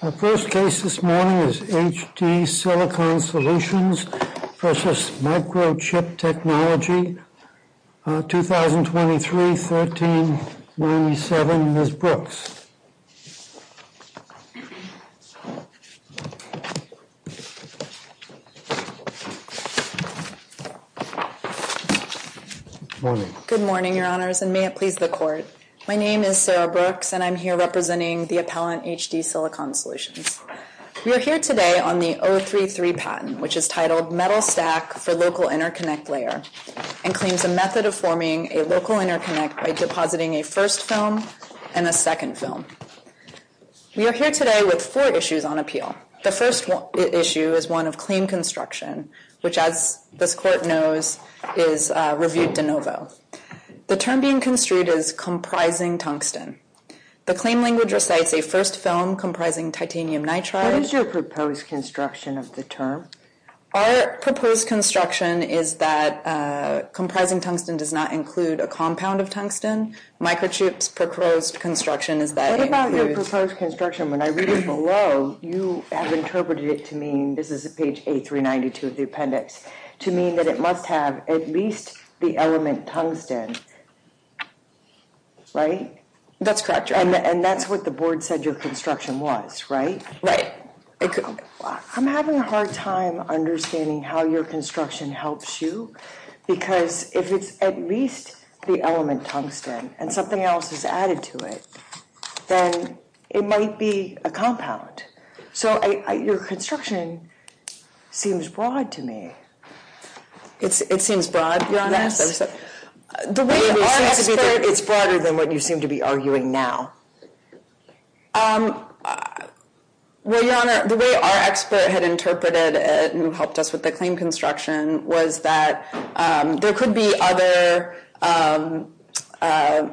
Our first case this morning is HD Silicon Solutions v. Microchip Technology, 2023-1397, Ms. Brooks. Good morning, your honors, and may it please the court. My name is Sarah Brooks, and I'm here representing the appellant HD Silicon Solutions. We are here today on the 033 patent, which is titled Metal Stack for Local Interconnect Layer, and claims a method of forming a local interconnect by depositing a first film and a second film. We are here today with four issues on appeal. The first issue is one of clean construction, which, as this court knows, is reviewed de novo. The term being construed is comprising tungsten. The claim language recites a first film comprising titanium nitride. What is your proposed construction of the term? Our proposed construction is that comprising tungsten does not include a compound of tungsten. Microchip's proposed construction is that it includes... What about your proposed construction? When I read it below, you have interpreted it to mean, this is page 8392 of the appendix, to mean that it must have at least the element tungsten, right? That's correct, your honor. And that's what the board said your construction was, right? Right. I'm having a hard time understanding how your construction helps you, because if it's at least the element tungsten and something else is added to it, then it might be a compound. So your construction seems broad to me. It seems broad, your honor? Yes. The way our expert... It's broader than what you seem to be arguing now. Well, your honor, the way our expert had interpreted it, who helped us with the claim construction, was that there could be other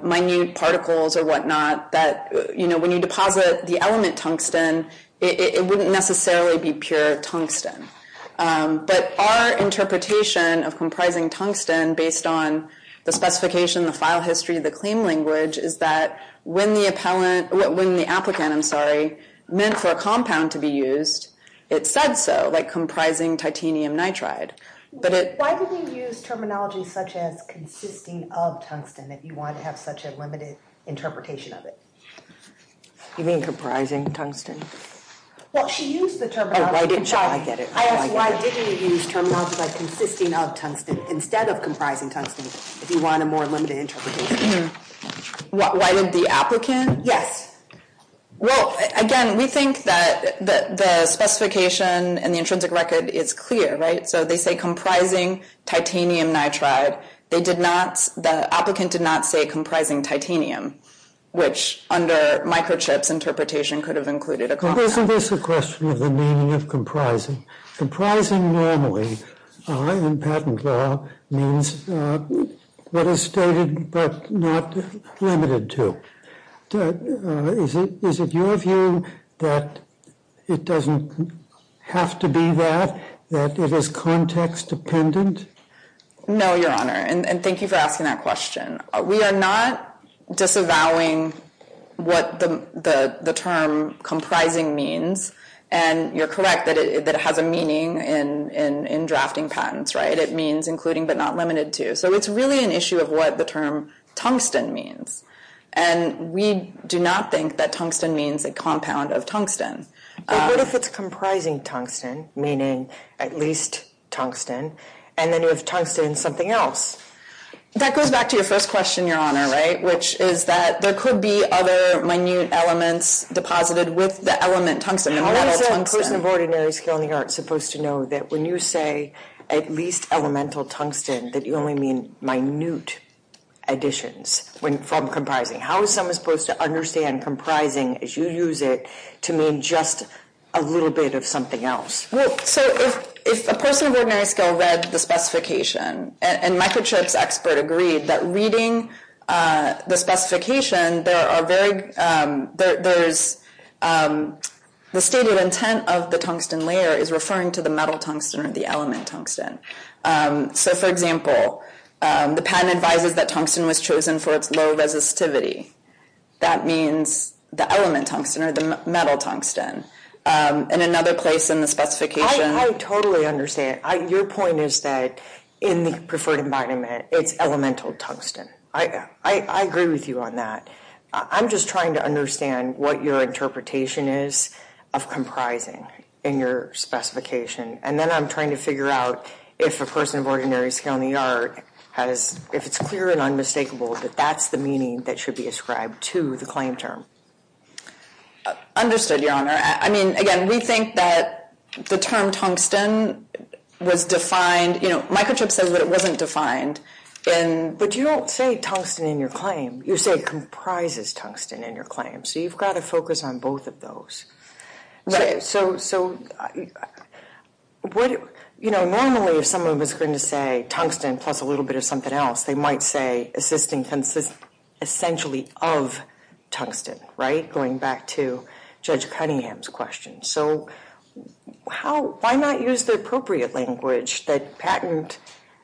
minute particles or whatnot, that when you deposit the element tungsten, it wouldn't necessarily be pure tungsten. But our interpretation of comprising tungsten, based on the specification, the file history, the claim language, is that when the applicant meant for a compound to be used, it said so, like comprising titanium nitride. Why did you use terminology such as consisting of tungsten if you wanted to have such a limited interpretation of it? You mean comprising tungsten? Well, she used the terminology. Oh, I get it. I asked why didn't you use terminology like consisting of tungsten instead of comprising tungsten if you want a more limited interpretation. Why did the applicant... Yes. Well, again, we think that the specification and the intrinsic record is clear, right? So they say comprising titanium nitride. The applicant did not say comprising titanium, which under microchips interpretation could have included a compound. Isn't this a question of the meaning of comprising? Comprising normally in patent law means what is stated but not limited to. Is it your view that it doesn't have to be that, that it is context dependent? No, Your Honor, and thank you for asking that question. We are not disavowing what the term comprising means, and you're correct that it has a meaning in drafting patents, right? It means including but not limited to. So it's really an issue of what the term tungsten means, and we do not think that tungsten means a compound of tungsten. But what if it's comprising tungsten, meaning at least tungsten, and then you have tungsten in something else? That goes back to your first question, Your Honor, right, which is that there could be other minute elements deposited with the element tungsten. How is a person of ordinary skill in the arts supposed to know that when you say at least elemental tungsten that you only mean minute additions from comprising? How is someone supposed to understand comprising as you use it to mean just a little bit of something else? Well, so if a person of ordinary skill read the specification, and Michael Chip's expert agreed that reading the specification, the stated intent of the tungsten layer is referring to the metal tungsten or the element tungsten. So, for example, the patent advises that tungsten was chosen for its low resistivity. That means the element tungsten or the metal tungsten. And another place in the specification— I totally understand. Your point is that in the preferred environment, it's elemental tungsten. I agree with you on that. I'm just trying to understand what your interpretation is of comprising in your specification. And then I'm trying to figure out if a person of ordinary skill in the art has— if it's clear and unmistakable that that's the meaning that should be ascribed to the claim term. Understood, Your Honor. I mean, again, we think that the term tungsten was defined— you know, Michael Chip says that it wasn't defined in— But you don't say tungsten in your claim. You say it comprises tungsten in your claim. So you've got to focus on both of those. Right. So, you know, normally if someone was going to say tungsten plus a little bit of something else, they might say assisting essentially of tungsten, right, going back to Judge Cunningham's question. So how—why not use the appropriate language that patent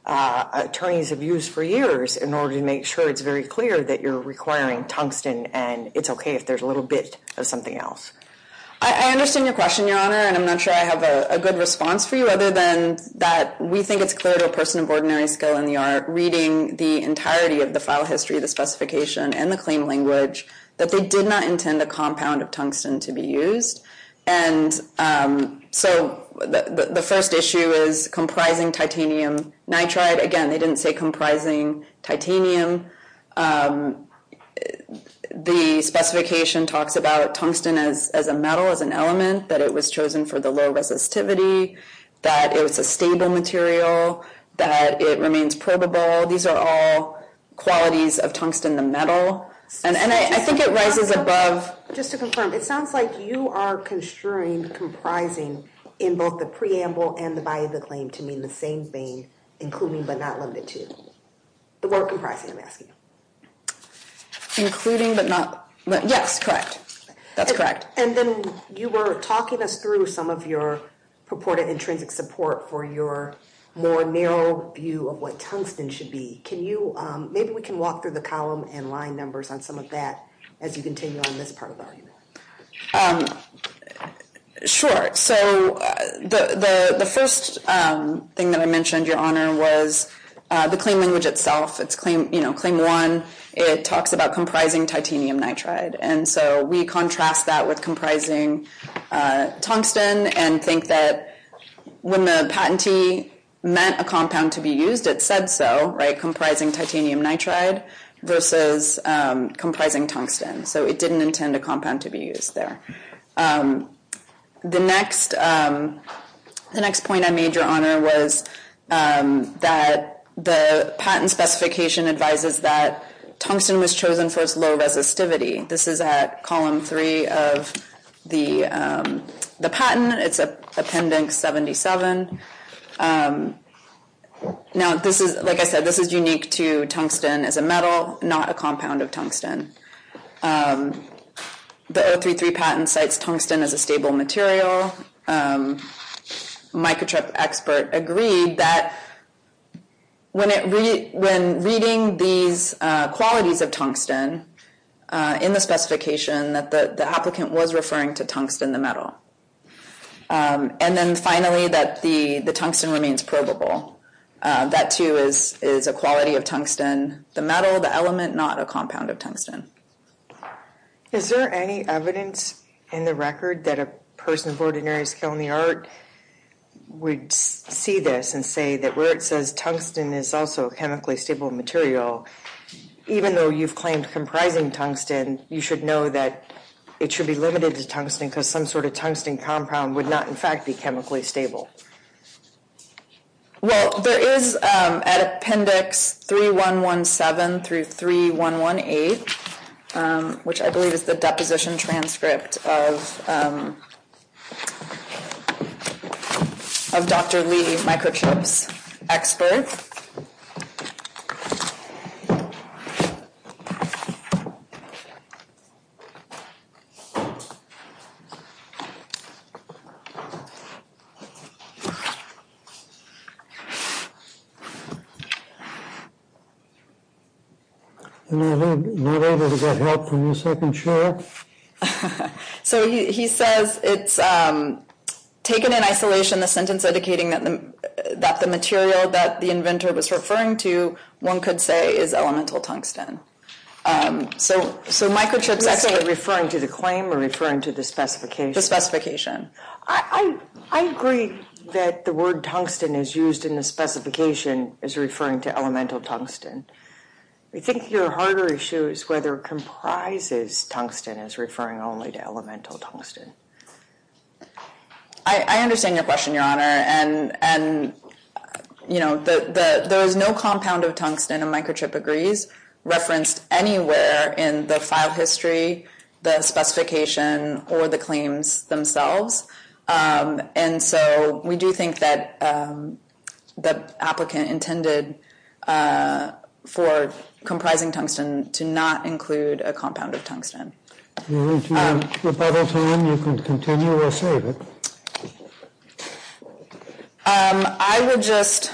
attorneys have used for years in order to make sure it's very clear that you're requiring tungsten and it's okay if there's a little bit of something else? I understand your question, Your Honor, and I'm not sure I have a good response for you other than that we think it's clear to a person of ordinary skill in the art reading the entirety of the file history, the specification, and the claim language that they did not intend a compound of tungsten to be used. And so the first issue is comprising titanium nitride. Again, they didn't say comprising titanium. The specification talks about tungsten as a metal, as an element, that it was chosen for the low resistivity, that it was a stable material, that it remains probable. These are all qualities of tungsten, the metal. And I think it rises above— Just to confirm, it sounds like you are construing comprising in both the preamble and the body of the claim to mean the same thing, including but not limited to. The word comprising, I'm asking. Including but not—yes, correct. That's correct. And then you were talking us through some of your purported intrinsic support for your more narrow view of what tungsten should be. Can you—maybe we can walk through the column and line numbers on some of that as you continue on this part of the argument. Sure. So the first thing that I mentioned, Your Honor, was the claim language itself. It's claim one. It talks about comprising titanium nitride. And so we contrast that with comprising tungsten and think that when the patentee meant a compound to be used, it said so, right? Comprising titanium nitride versus comprising tungsten. So it didn't intend a compound to be used there. The next point I made, Your Honor, was that the patent specification advises that tungsten was chosen for its low resistivity. This is at column three of the patent. It's Appendix 77. Now, like I said, this is unique to tungsten as a metal, not a compound of tungsten. The 033 patent cites tungsten as a stable material. A microtrip expert agreed that when reading these qualities of tungsten in the specification, that the applicant was referring to tungsten, the metal. And then finally, that the tungsten remains probable. That, too, is a quality of tungsten, the metal, the element, not a compound of tungsten. Is there any evidence in the record that a person of ordinary skill in the art would see this and say that where it says tungsten is also a chemically stable material, even though you've claimed comprising tungsten, you should know that it should be limited to tungsten because some sort of tungsten compound would not, in fact, be chemically stable? Well, there is at Appendix 3117 through 3118, which I believe is the deposition transcript of Dr. Lee, microtrip's expert. So he says it's taken in isolation the sentence indicating that the material that the inventor was referring to, one could say, is elemental tungsten. So microtrip's expert referring to the claim or referring to the specification? I agree that the word tungsten is used in the specification as referring to elemental tungsten. I think your harder issue is whether comprises tungsten as referring only to elemental tungsten. I understand your question, Your Honor. And, you know, there is no compound of tungsten, and microtrip agrees, referenced anywhere in the file history, the specification, or the claims themselves. And so we do think that the applicant intended for comprising tungsten to not include a compound of tungsten. If you have rebuttal time, you can continue or save it. I would just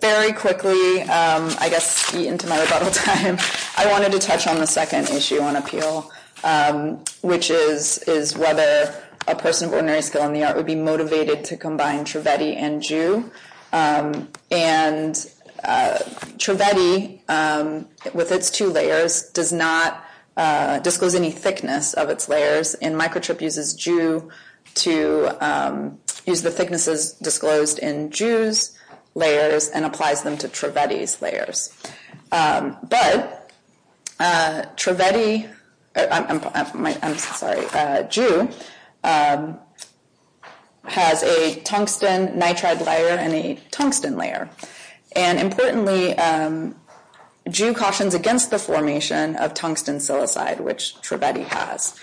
very quickly, I guess, eat into my rebuttal time. I wanted to touch on the second issue on appeal, which is whether a person of ordinary skill in the art would be motivated to combine Trivedi and Jew. And Trivedi, with its two layers, does not disclose any thickness of its layers. And microtrip uses Jew to use the thicknesses disclosed in Jew's layers and applies them to Trivedi's layers. But Trivedi, I'm sorry, Jew, has a tungsten nitride layer and a tungsten layer. And importantly, Jew cautions against the formation of tungsten silicide, which Trivedi has.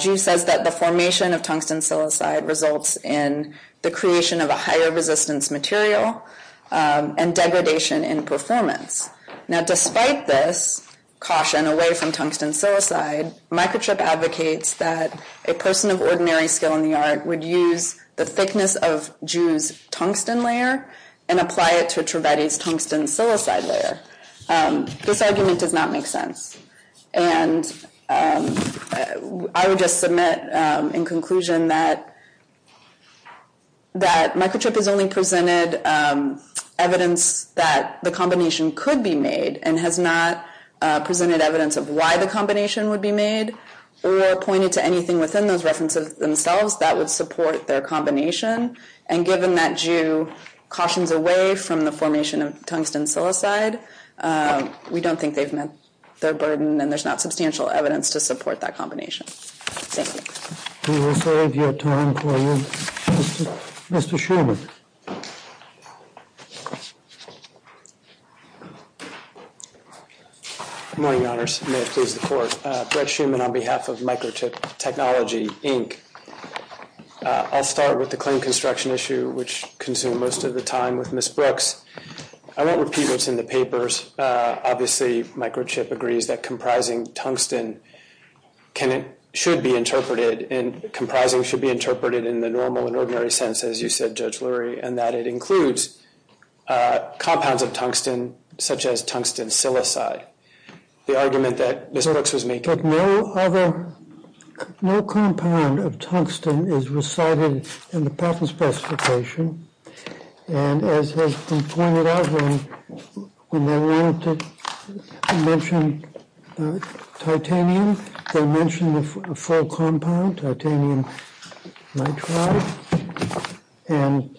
Jew says that the formation of tungsten silicide results in the creation of a higher resistance material and degradation in performance. Now, despite this caution away from tungsten silicide, microtrip advocates that a person of ordinary skill in the art would use the thickness of Jew's tungsten layer and apply it to Trivedi's tungsten silicide layer. This argument does not make sense. And I would just submit in conclusion that microtrip has only presented evidence that the combination could be made and has not presented evidence of why the combination would be made or pointed to anything within those references themselves that would support their combination. And given that Jew cautions away from the formation of tungsten silicide, we don't think they've met their burden and there's not substantial evidence to support that combination. Thank you. We will save your time for you. Mr. Shuman. Good morning, Your Honors. May it please the Court. Brett Shuman on behalf of Microtrip Technology, Inc. I'll start with the clean construction issue, which consumed most of the time with Ms. Brooks. I won't repeat what's in the papers. Obviously, microtrip agrees that comprising tungsten should be interpreted in the normal and ordinary sense, as you said, Judge Lurie, and that it includes compounds of tungsten, such as tungsten silicide. The argument that Ms. Brooks was making is that no compound of tungsten is recited in the patent specification and, as has been pointed out, when they were able to mention titanium, they mentioned a full compound, titanium nitride, and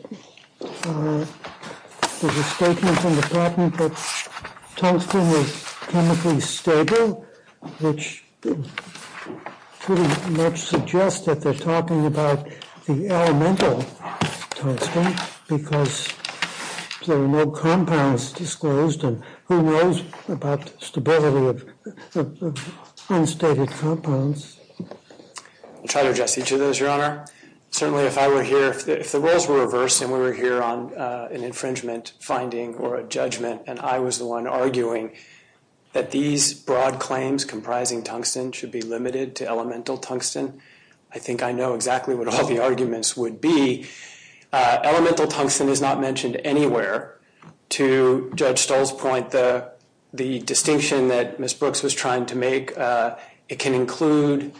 there's a statement in the patent that tungsten is chemically stable, which pretty much suggests that they're talking about the elemental tungsten, because there are no compounds disclosed, and who knows about the stability of unstated compounds? I'll try to address each of those, Your Honor. Certainly, if I were here, if the roles were reversed and we were here on an infringement finding or a judgment and I was the one arguing that these broad claims comprising tungsten should be limited to elemental tungsten, I think I know exactly what all the arguments would be. Elemental tungsten is not mentioned anywhere. To Judge Stoll's point, the distinction that Ms. Brooks was trying to make, it can include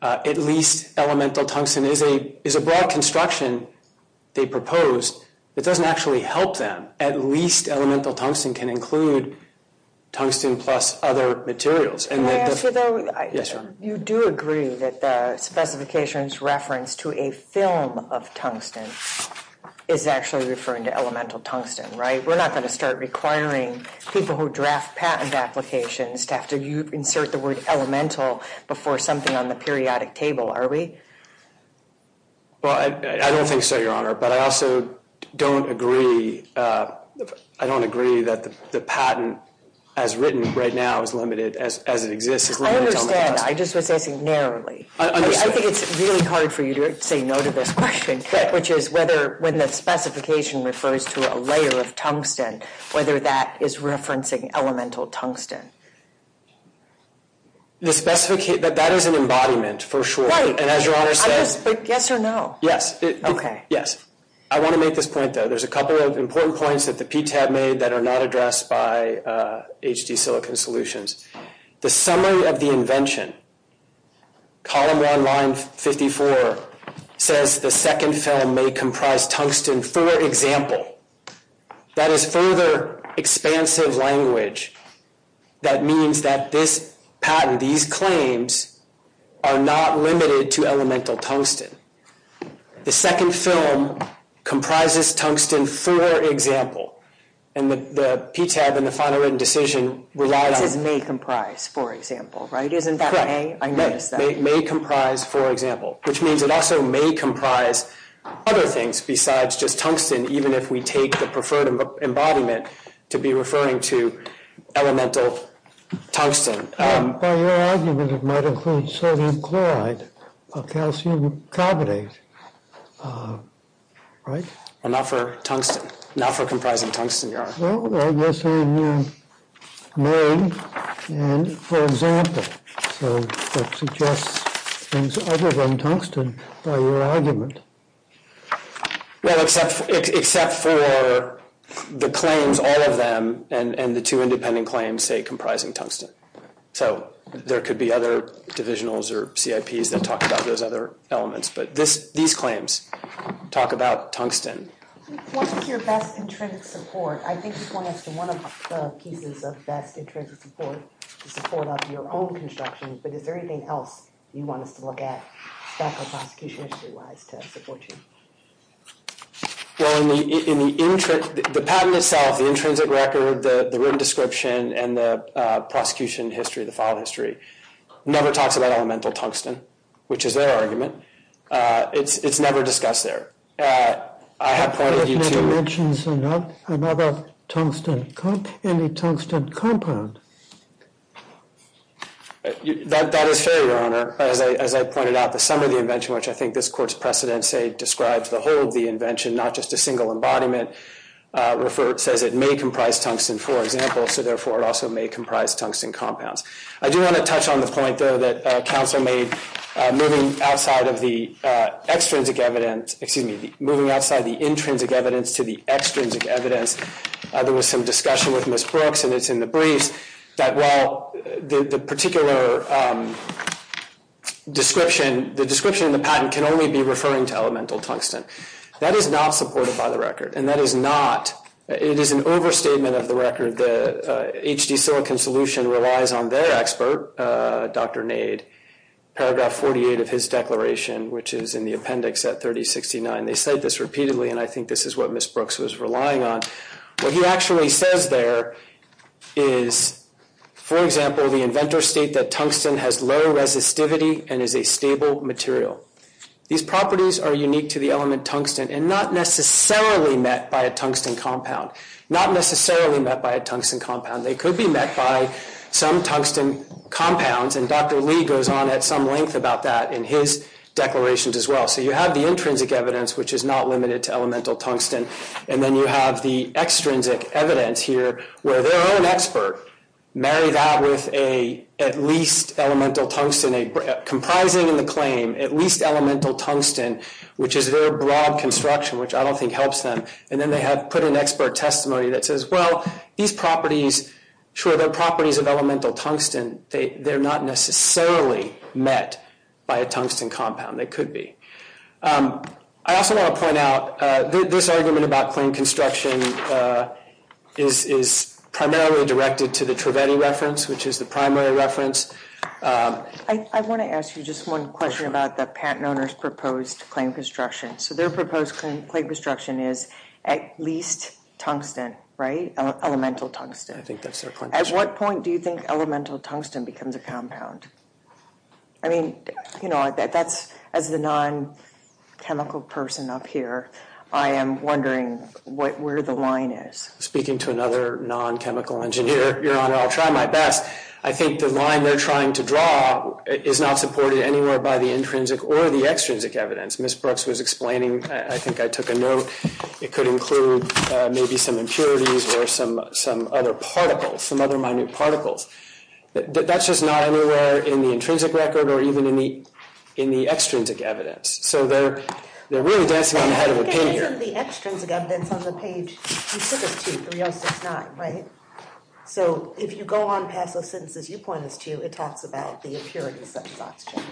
at least elemental tungsten is a broad construction they proposed that doesn't actually help them. At least elemental tungsten can include tungsten plus other materials. Can I ask you, though? Yes, Your Honor. You do agree that the specification's reference to a film of tungsten is actually referring to elemental tungsten, right? We're not going to start requiring people who draft patent applications to have to insert the word elemental before something on the periodic table, are we? Well, I don't think so, Your Honor. But I also don't agree that the patent as written right now as it exists is limited to elemental tungsten. I understand. I just was asking narrowly. I think it's really hard for you to say no to this question, which is whether when the specification refers to a layer of tungsten, whether that is referencing elemental tungsten. That is an embodiment, for sure. But yes or no? Okay. Yes. I want to make this point, though. There's a couple of important points that the PTAB made that are not addressed by HD Silicon Solutions. The summary of the invention, column 1, line 54, says the second film may comprise tungsten for example. That is further expansive language. That means that this patent, these claims, are not limited to elemental tungsten. The second film comprises tungsten for example. And the PTAB and the final written decision rely on – It says may comprise for example, right? Correct. I noticed that. May comprise for example. Which means it also may comprise other things besides just tungsten, even if we take the preferred embodiment to be referring to elemental tungsten. By your argument, it might include sodium chloride or calcium carbonate, right? Not for tungsten. Not for comprising tungsten, your Honor. Well, I guess in May, and for example. So that suggests things other than tungsten by your argument. Well, except for the claims, all of them, and the two independent claims say comprising tungsten. So there could be other divisionals or CIPs that talk about those other elements. But these claims talk about tungsten. What is your best intrinsic support? I think you point us to one of the pieces of best intrinsic support, the support of your own construction. But is there anything else you want us to look at, background prosecution history-wise, to support you? Well, in the patent itself, the intrinsic record, the written description, and the prosecution history, the file history, never talks about elemental tungsten, which is their argument. It's never discussed there. I have pointed you to- If it mentions another tungsten, any tungsten compound. That is fair, your Honor. As I pointed out, the sum of the invention, which I think this Court's precedents say describes the whole of the invention, not just a single embodiment. It says it may comprise tungsten, for example, so therefore it also may comprise tungsten compounds. I do want to touch on the point, though, that counsel made moving outside of the extrinsic evidence, excuse me, moving outside the intrinsic evidence to the extrinsic evidence. There was some discussion with Ms. Brooks, and it's in the briefs, that while the particular description, the description in the patent, can only be referring to elemental tungsten. That is not supported by the record, and that is not- It is an overstatement of the record. The HD silicon solution relies on their expert, Dr. Nade, paragraph 48 of his declaration, which is in the appendix at 3069. They say this repeatedly, and I think this is what Ms. Brooks was relying on. What he actually says there is, for example, the inventors state that tungsten has low resistivity and is a stable material. These properties are unique to the element tungsten and not necessarily met by a tungsten compound, not necessarily met by a tungsten compound. They could be met by some tungsten compounds, and Dr. Lee goes on at some length about that in his declarations as well. So you have the intrinsic evidence, which is not limited to elemental tungsten, and then you have the extrinsic evidence here, where their own expert married that with at least elemental tungsten, comprising in the claim, at least elemental tungsten, which is their broad construction, which I don't think helps them. And then they have put an expert testimony that says, well, these properties, sure, they're properties of elemental tungsten. They're not necessarily met by a tungsten compound. They could be. I also want to point out, this argument about claim construction is primarily directed to the Trivedi reference, which is the primary reference. I want to ask you just one question about the patent owner's proposed claim construction. So their proposed claim construction is at least tungsten, right? Elemental tungsten. I think that's their point. At what point do you think elemental tungsten becomes a compound? I mean, you know, as the non-chemical person up here, I am wondering where the line is. Speaking to another non-chemical engineer, Your Honor, I'll try my best. I think the line they're trying to draw is not supported anywhere by the intrinsic or the extrinsic evidence. Ms. Brooks was explaining, I think I took a note, it could include maybe some impurities or some other particles, some other minute particles. That's just not anywhere in the intrinsic record or even in the extrinsic evidence. So they're really dancing on the head of a pin here. The extrinsic evidence on the page, you took us to 3069, right? So if you go on past those sentences you pointed us to, it talks about the impurities such as oxygen.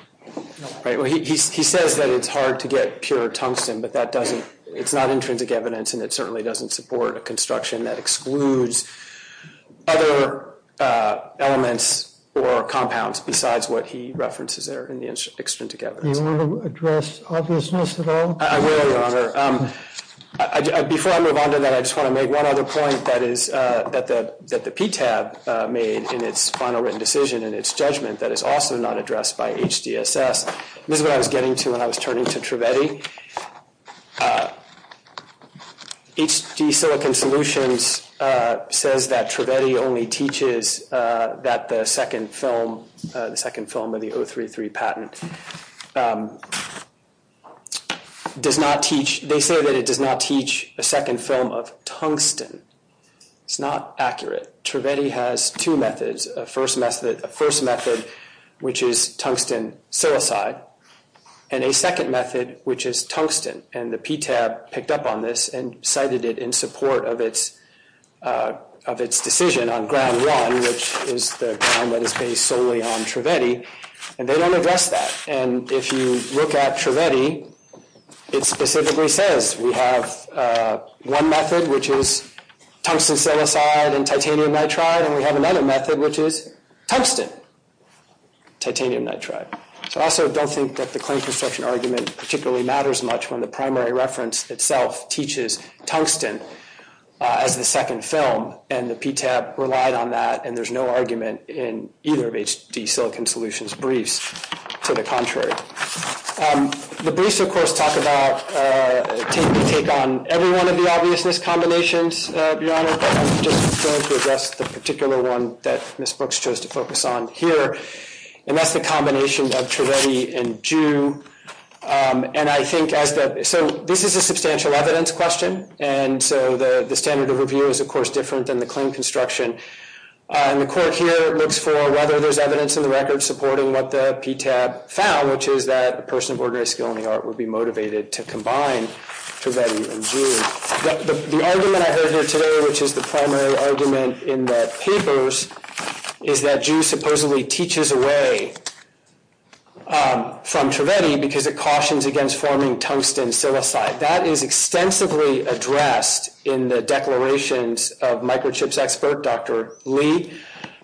He says that it's hard to get pure tungsten, but it's not intrinsic evidence and it certainly doesn't support a construction that excludes other elements or compounds besides what he references there in the extrinsic evidence. Do you want to address obviousness at all? I will, Your Honor. Before I move on to that, I just want to make one other point that the PTAB made in its final written decision and its judgment that is also not addressed by HDSS. This is what I was getting to when I was turning to Trivedi. HD Silicon Solutions says that Trivedi only teaches that the second film of the 033 patent does not teach, they say that it does not teach a second film of tungsten. It's not accurate. Trivedi has two methods, a first method which is tungsten silicide and a second method which is tungsten. And the PTAB picked up on this and cited it in support of its decision on ground one, which is the ground that is based solely on Trivedi, and they don't address that. And if you look at Trivedi, it specifically says we have one method, which is tungsten silicide and titanium nitride, and we have another method which is tungsten, titanium nitride. So I also don't think that the claim construction argument particularly matters much when the primary reference itself teaches tungsten as the second film, and the PTAB relied on that, and there's no argument in either of HD Silicon Solutions' briefs to the contrary. The briefs, of course, take on every one of the obviousness combinations, Your Honor, but I'm just going to address the particular one that Ms. Brooks chose to focus on here, and that's the combination of Trivedi and Jew. So this is a substantial evidence question, and so the standard of review is, of course, different than the claim construction, and the court here looks for whether there's evidence in the record supporting what the PTAB found, which is that a person of ordinary skill in the art would be motivated to combine Trivedi and Jew. The argument I heard here today, which is the primary argument in the papers, is that Jew supposedly teaches away from Trivedi because it cautions against forming tungsten silicide. That is extensively addressed in the declarations of microchips expert Dr. Lee,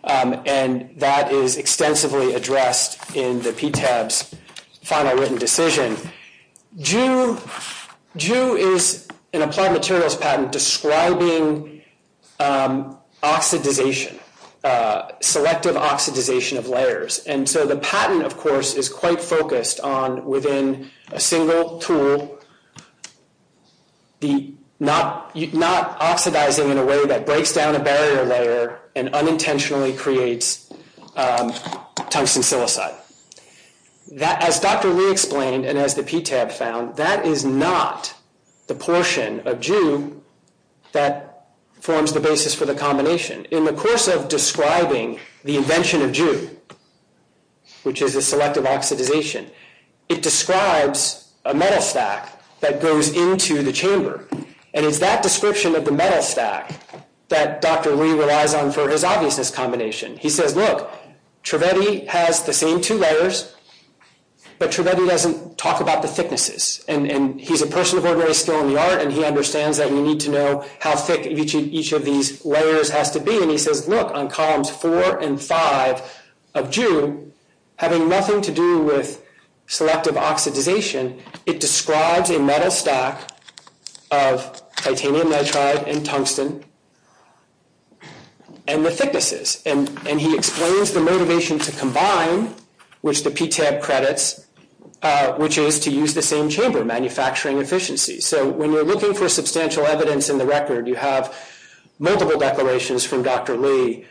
and that is extensively addressed in the PTAB's final written decision. Jew is an applied materials patent describing oxidization, selective oxidization of layers, and so the patent, of course, is quite focused on, within a single tool, not oxidizing in a way that breaks down a barrier layer and unintentionally creates tungsten silicide. As Dr. Lee explained and as the PTAB found, that is not the portion of Jew that forms the basis for the combination. In the course of describing the invention of Jew, which is a selective oxidization, it describes a metal stack that goes into the chamber, and it's that description of the metal stack that Dr. Lee relies on for his obviousness combination. He says, look, Trivedi has the same two layers, but Trivedi doesn't talk about the thicknesses, and he's a person of ordinary skill in the art, and he understands that you need to know how thick each of these layers has to be, and he says, look, on columns four and five of Jew, having nothing to do with selective oxidization, it describes a metal stack of titanium nitride and tungsten and the thicknesses, and he explains the motivation to combine, which the PTAB credits, which is to use the same chamber manufacturing efficiency. So when you're looking for substantial evidence in the record, you have multiple declarations from Dr. Lee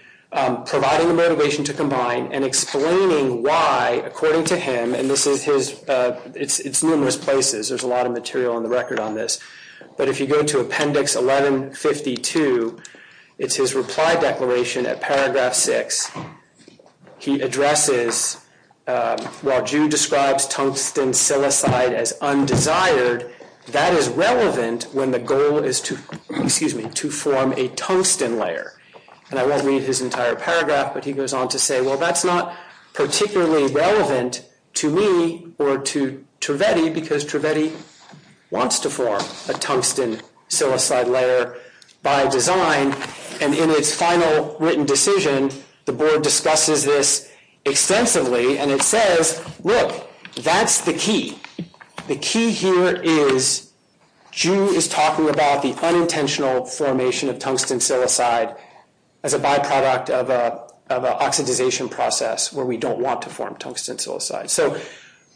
providing the motivation to combine and explaining why, according to him, and this is his, it's numerous places, there's a lot of material in the record on this, but if you go to appendix 1152, it's his reply declaration at paragraph six. He addresses, while Jew describes tungsten silicide as undesired, that is relevant when the goal is to, excuse me, to form a tungsten layer, and I won't read his entire paragraph, but he goes on to say, well, that's not particularly relevant to me or to Trivedi because Trivedi wants to form a tungsten silicide layer by design, and in its final written decision, the board discusses this extensively, and it says, look, that's the key. The key here is Jew is talking about the unintentional formation of tungsten silicide as a byproduct of an oxidization process where we don't want to form tungsten silicide, so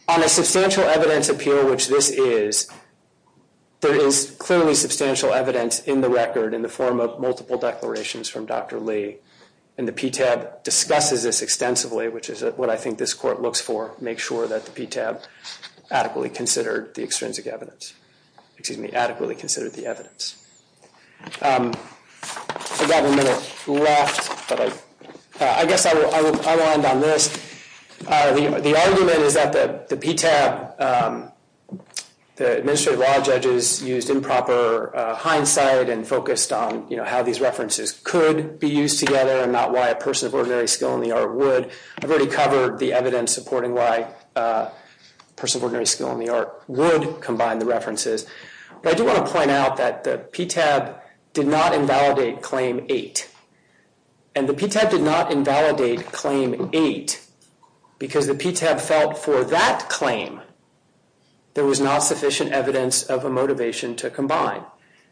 on a substantial evidence appeal, which this is, there is clearly substantial evidence in the record in the form of multiple declarations from Dr. Lee, and the PTAB discusses this extensively, which is what I think this court looks for, make sure that the PTAB adequately considered the extrinsic evidence, excuse me, adequately considered the evidence. I've got a minute left, but I guess I will end on this. The argument is that the PTAB, the administrative law judges used improper hindsight and focused on how these references could be used together and not why a person of ordinary skill in the art would. I've already covered the evidence supporting why a person of ordinary skill in the art would combine the references, but I do want to point out that the PTAB did not invalidate Claim 8, and the PTAB did not invalidate Claim 8 because the PTAB felt for that claim there was not sufficient evidence of a motivation to combine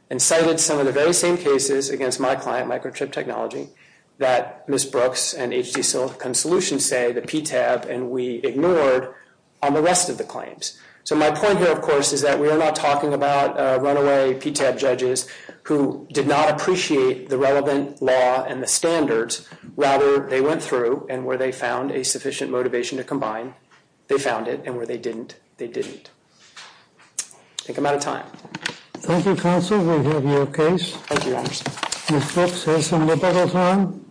and cited some of the very same cases against my client, Microchip Technology, that Ms. Brooks and H.T. Silicon Solutions say the PTAB and we ignored on the rest of the claims. So my point here, of course, is that we are not talking about runaway PTAB judges who did not appreciate the relevant law and the standards. Rather, they went through and where they found a sufficient motivation to combine, they found it, and where they didn't, they didn't. I think I'm out of time. Thank you, counsel. We have your case. Thank you, Your Honor. Ms. Brooks has some liberal time.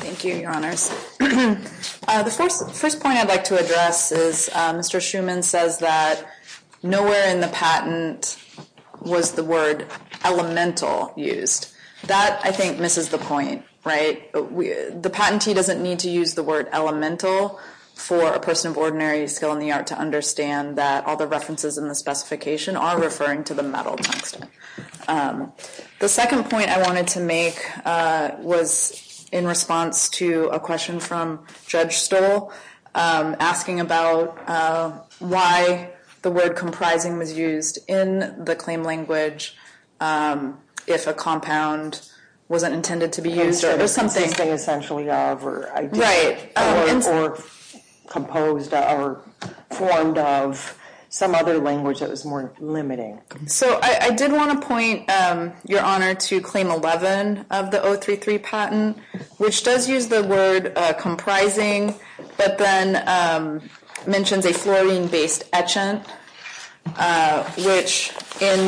Thank you, Your Honors. The first point I'd like to address is Mr. Schuman says that nowhere in the patent was the word elemental used. That, I think, misses the point, right? The patentee doesn't need to use the word elemental for a person of ordinary skill in the art to understand that all the references in the specification are referring to the metal tungsten. The second point I wanted to make was in response to a question from Judge Stoll, asking about why the word comprising was used in the claim language if a compound wasn't intended to be used. It was something essentially of or composed or formed of some other language that was more limiting. So I did want to point, Your Honor, to Claim 11 of the 033 patent, which does use the word comprising but then mentions a fluorine-based etchant, which in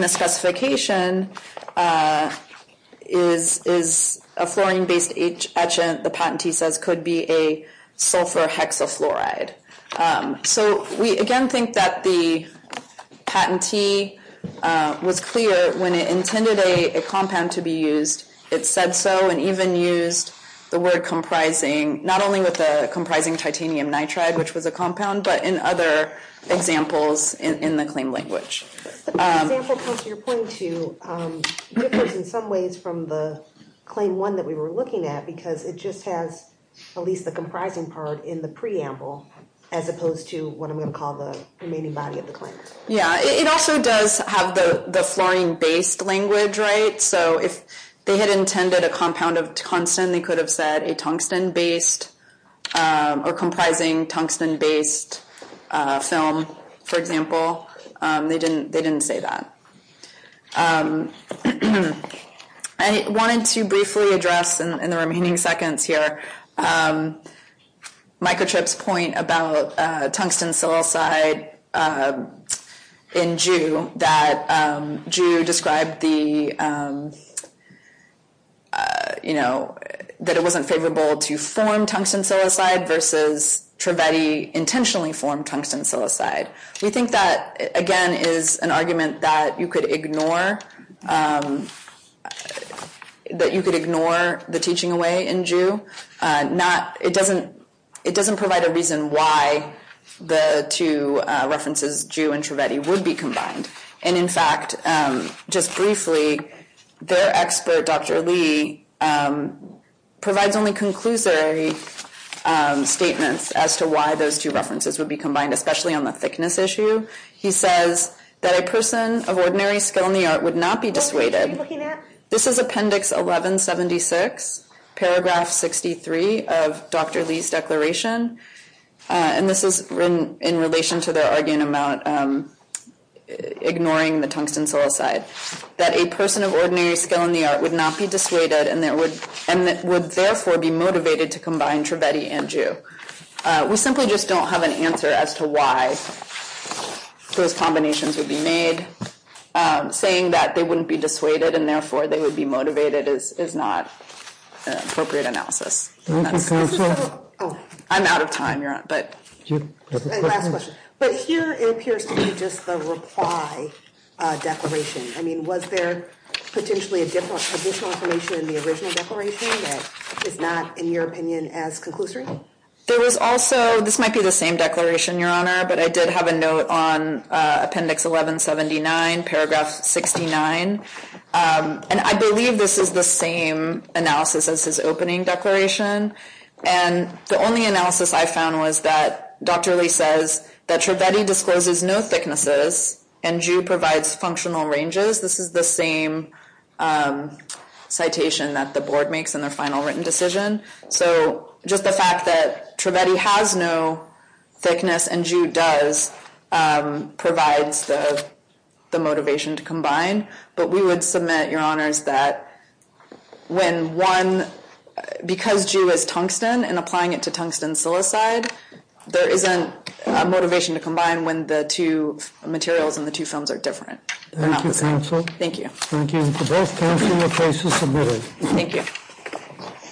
the specification is a fluorine-based etchant the patentee says could be a sulfur hexafluoride. So we again think that the patentee was clear when it intended a compound to be used. It said so and even used the word comprising not only with the comprising titanium nitride, which was a compound, but in other examples in the claim language. The example close to your point, too, differs in some ways from the Claim 1 that we were looking at because it just has at least the comprising part in the preamble as opposed to what I'm going to call the remaining body of the claim. Yeah, it also does have the fluorine-based language, right? So if they had intended a compound of tungsten, they could have said a tungsten-based or comprising tungsten-based film, for example. They didn't say that. I wanted to briefly address in the remaining seconds here Microtrip's point about tungsten psilocyde in Jew, that Jew described that it wasn't favorable to form tungsten psilocyde versus Trivedi intentionally formed tungsten psilocyde. We think that, again, is an argument that you could ignore the teaching away in Jew, it doesn't provide a reason why the two references, Jew and Trivedi, would be combined. And in fact, just briefly, their expert, Dr. Lee, provides only conclusory statements as to why those two references would be combined, especially on the thickness issue. He says that a person of ordinary skill in the art would not be dissuaded. This is Appendix 1176, paragraph 63 of Dr. Lee's declaration, and this is in relation to their argument about ignoring the tungsten psilocyde. That a person of ordinary skill in the art would not be dissuaded and would therefore be motivated to combine Trivedi and Jew. We simply just don't have an answer as to why those combinations would be made, saying that they wouldn't be dissuaded and therefore they would be motivated is not an appropriate analysis. I'm out of time, Your Honor, but... Last question. But here it appears to be just the reply declaration. I mean, was there potentially additional information in the original declaration that is not, in your opinion, as conclusory? There was also, this might be the same declaration, Your Honor, but I did have a note on Appendix 1179, paragraph 69, and I believe this is the same analysis as his opening declaration, and the only analysis I found was that Dr. Lee says that Trivedi discloses no thicknesses and Jew provides functional ranges. This is the same citation that the board makes in their final written decision. So just the fact that Trivedi has no thickness and Jew does provides the motivation to combine, but we would submit, Your Honors, that when one, because Jew is tungsten and applying it to tungsten silicide, there isn't a motivation to combine when the two materials in the two films are different. Thank you, counsel. Thank you. Thank you. Both counsel, your case is submitted. Thank you.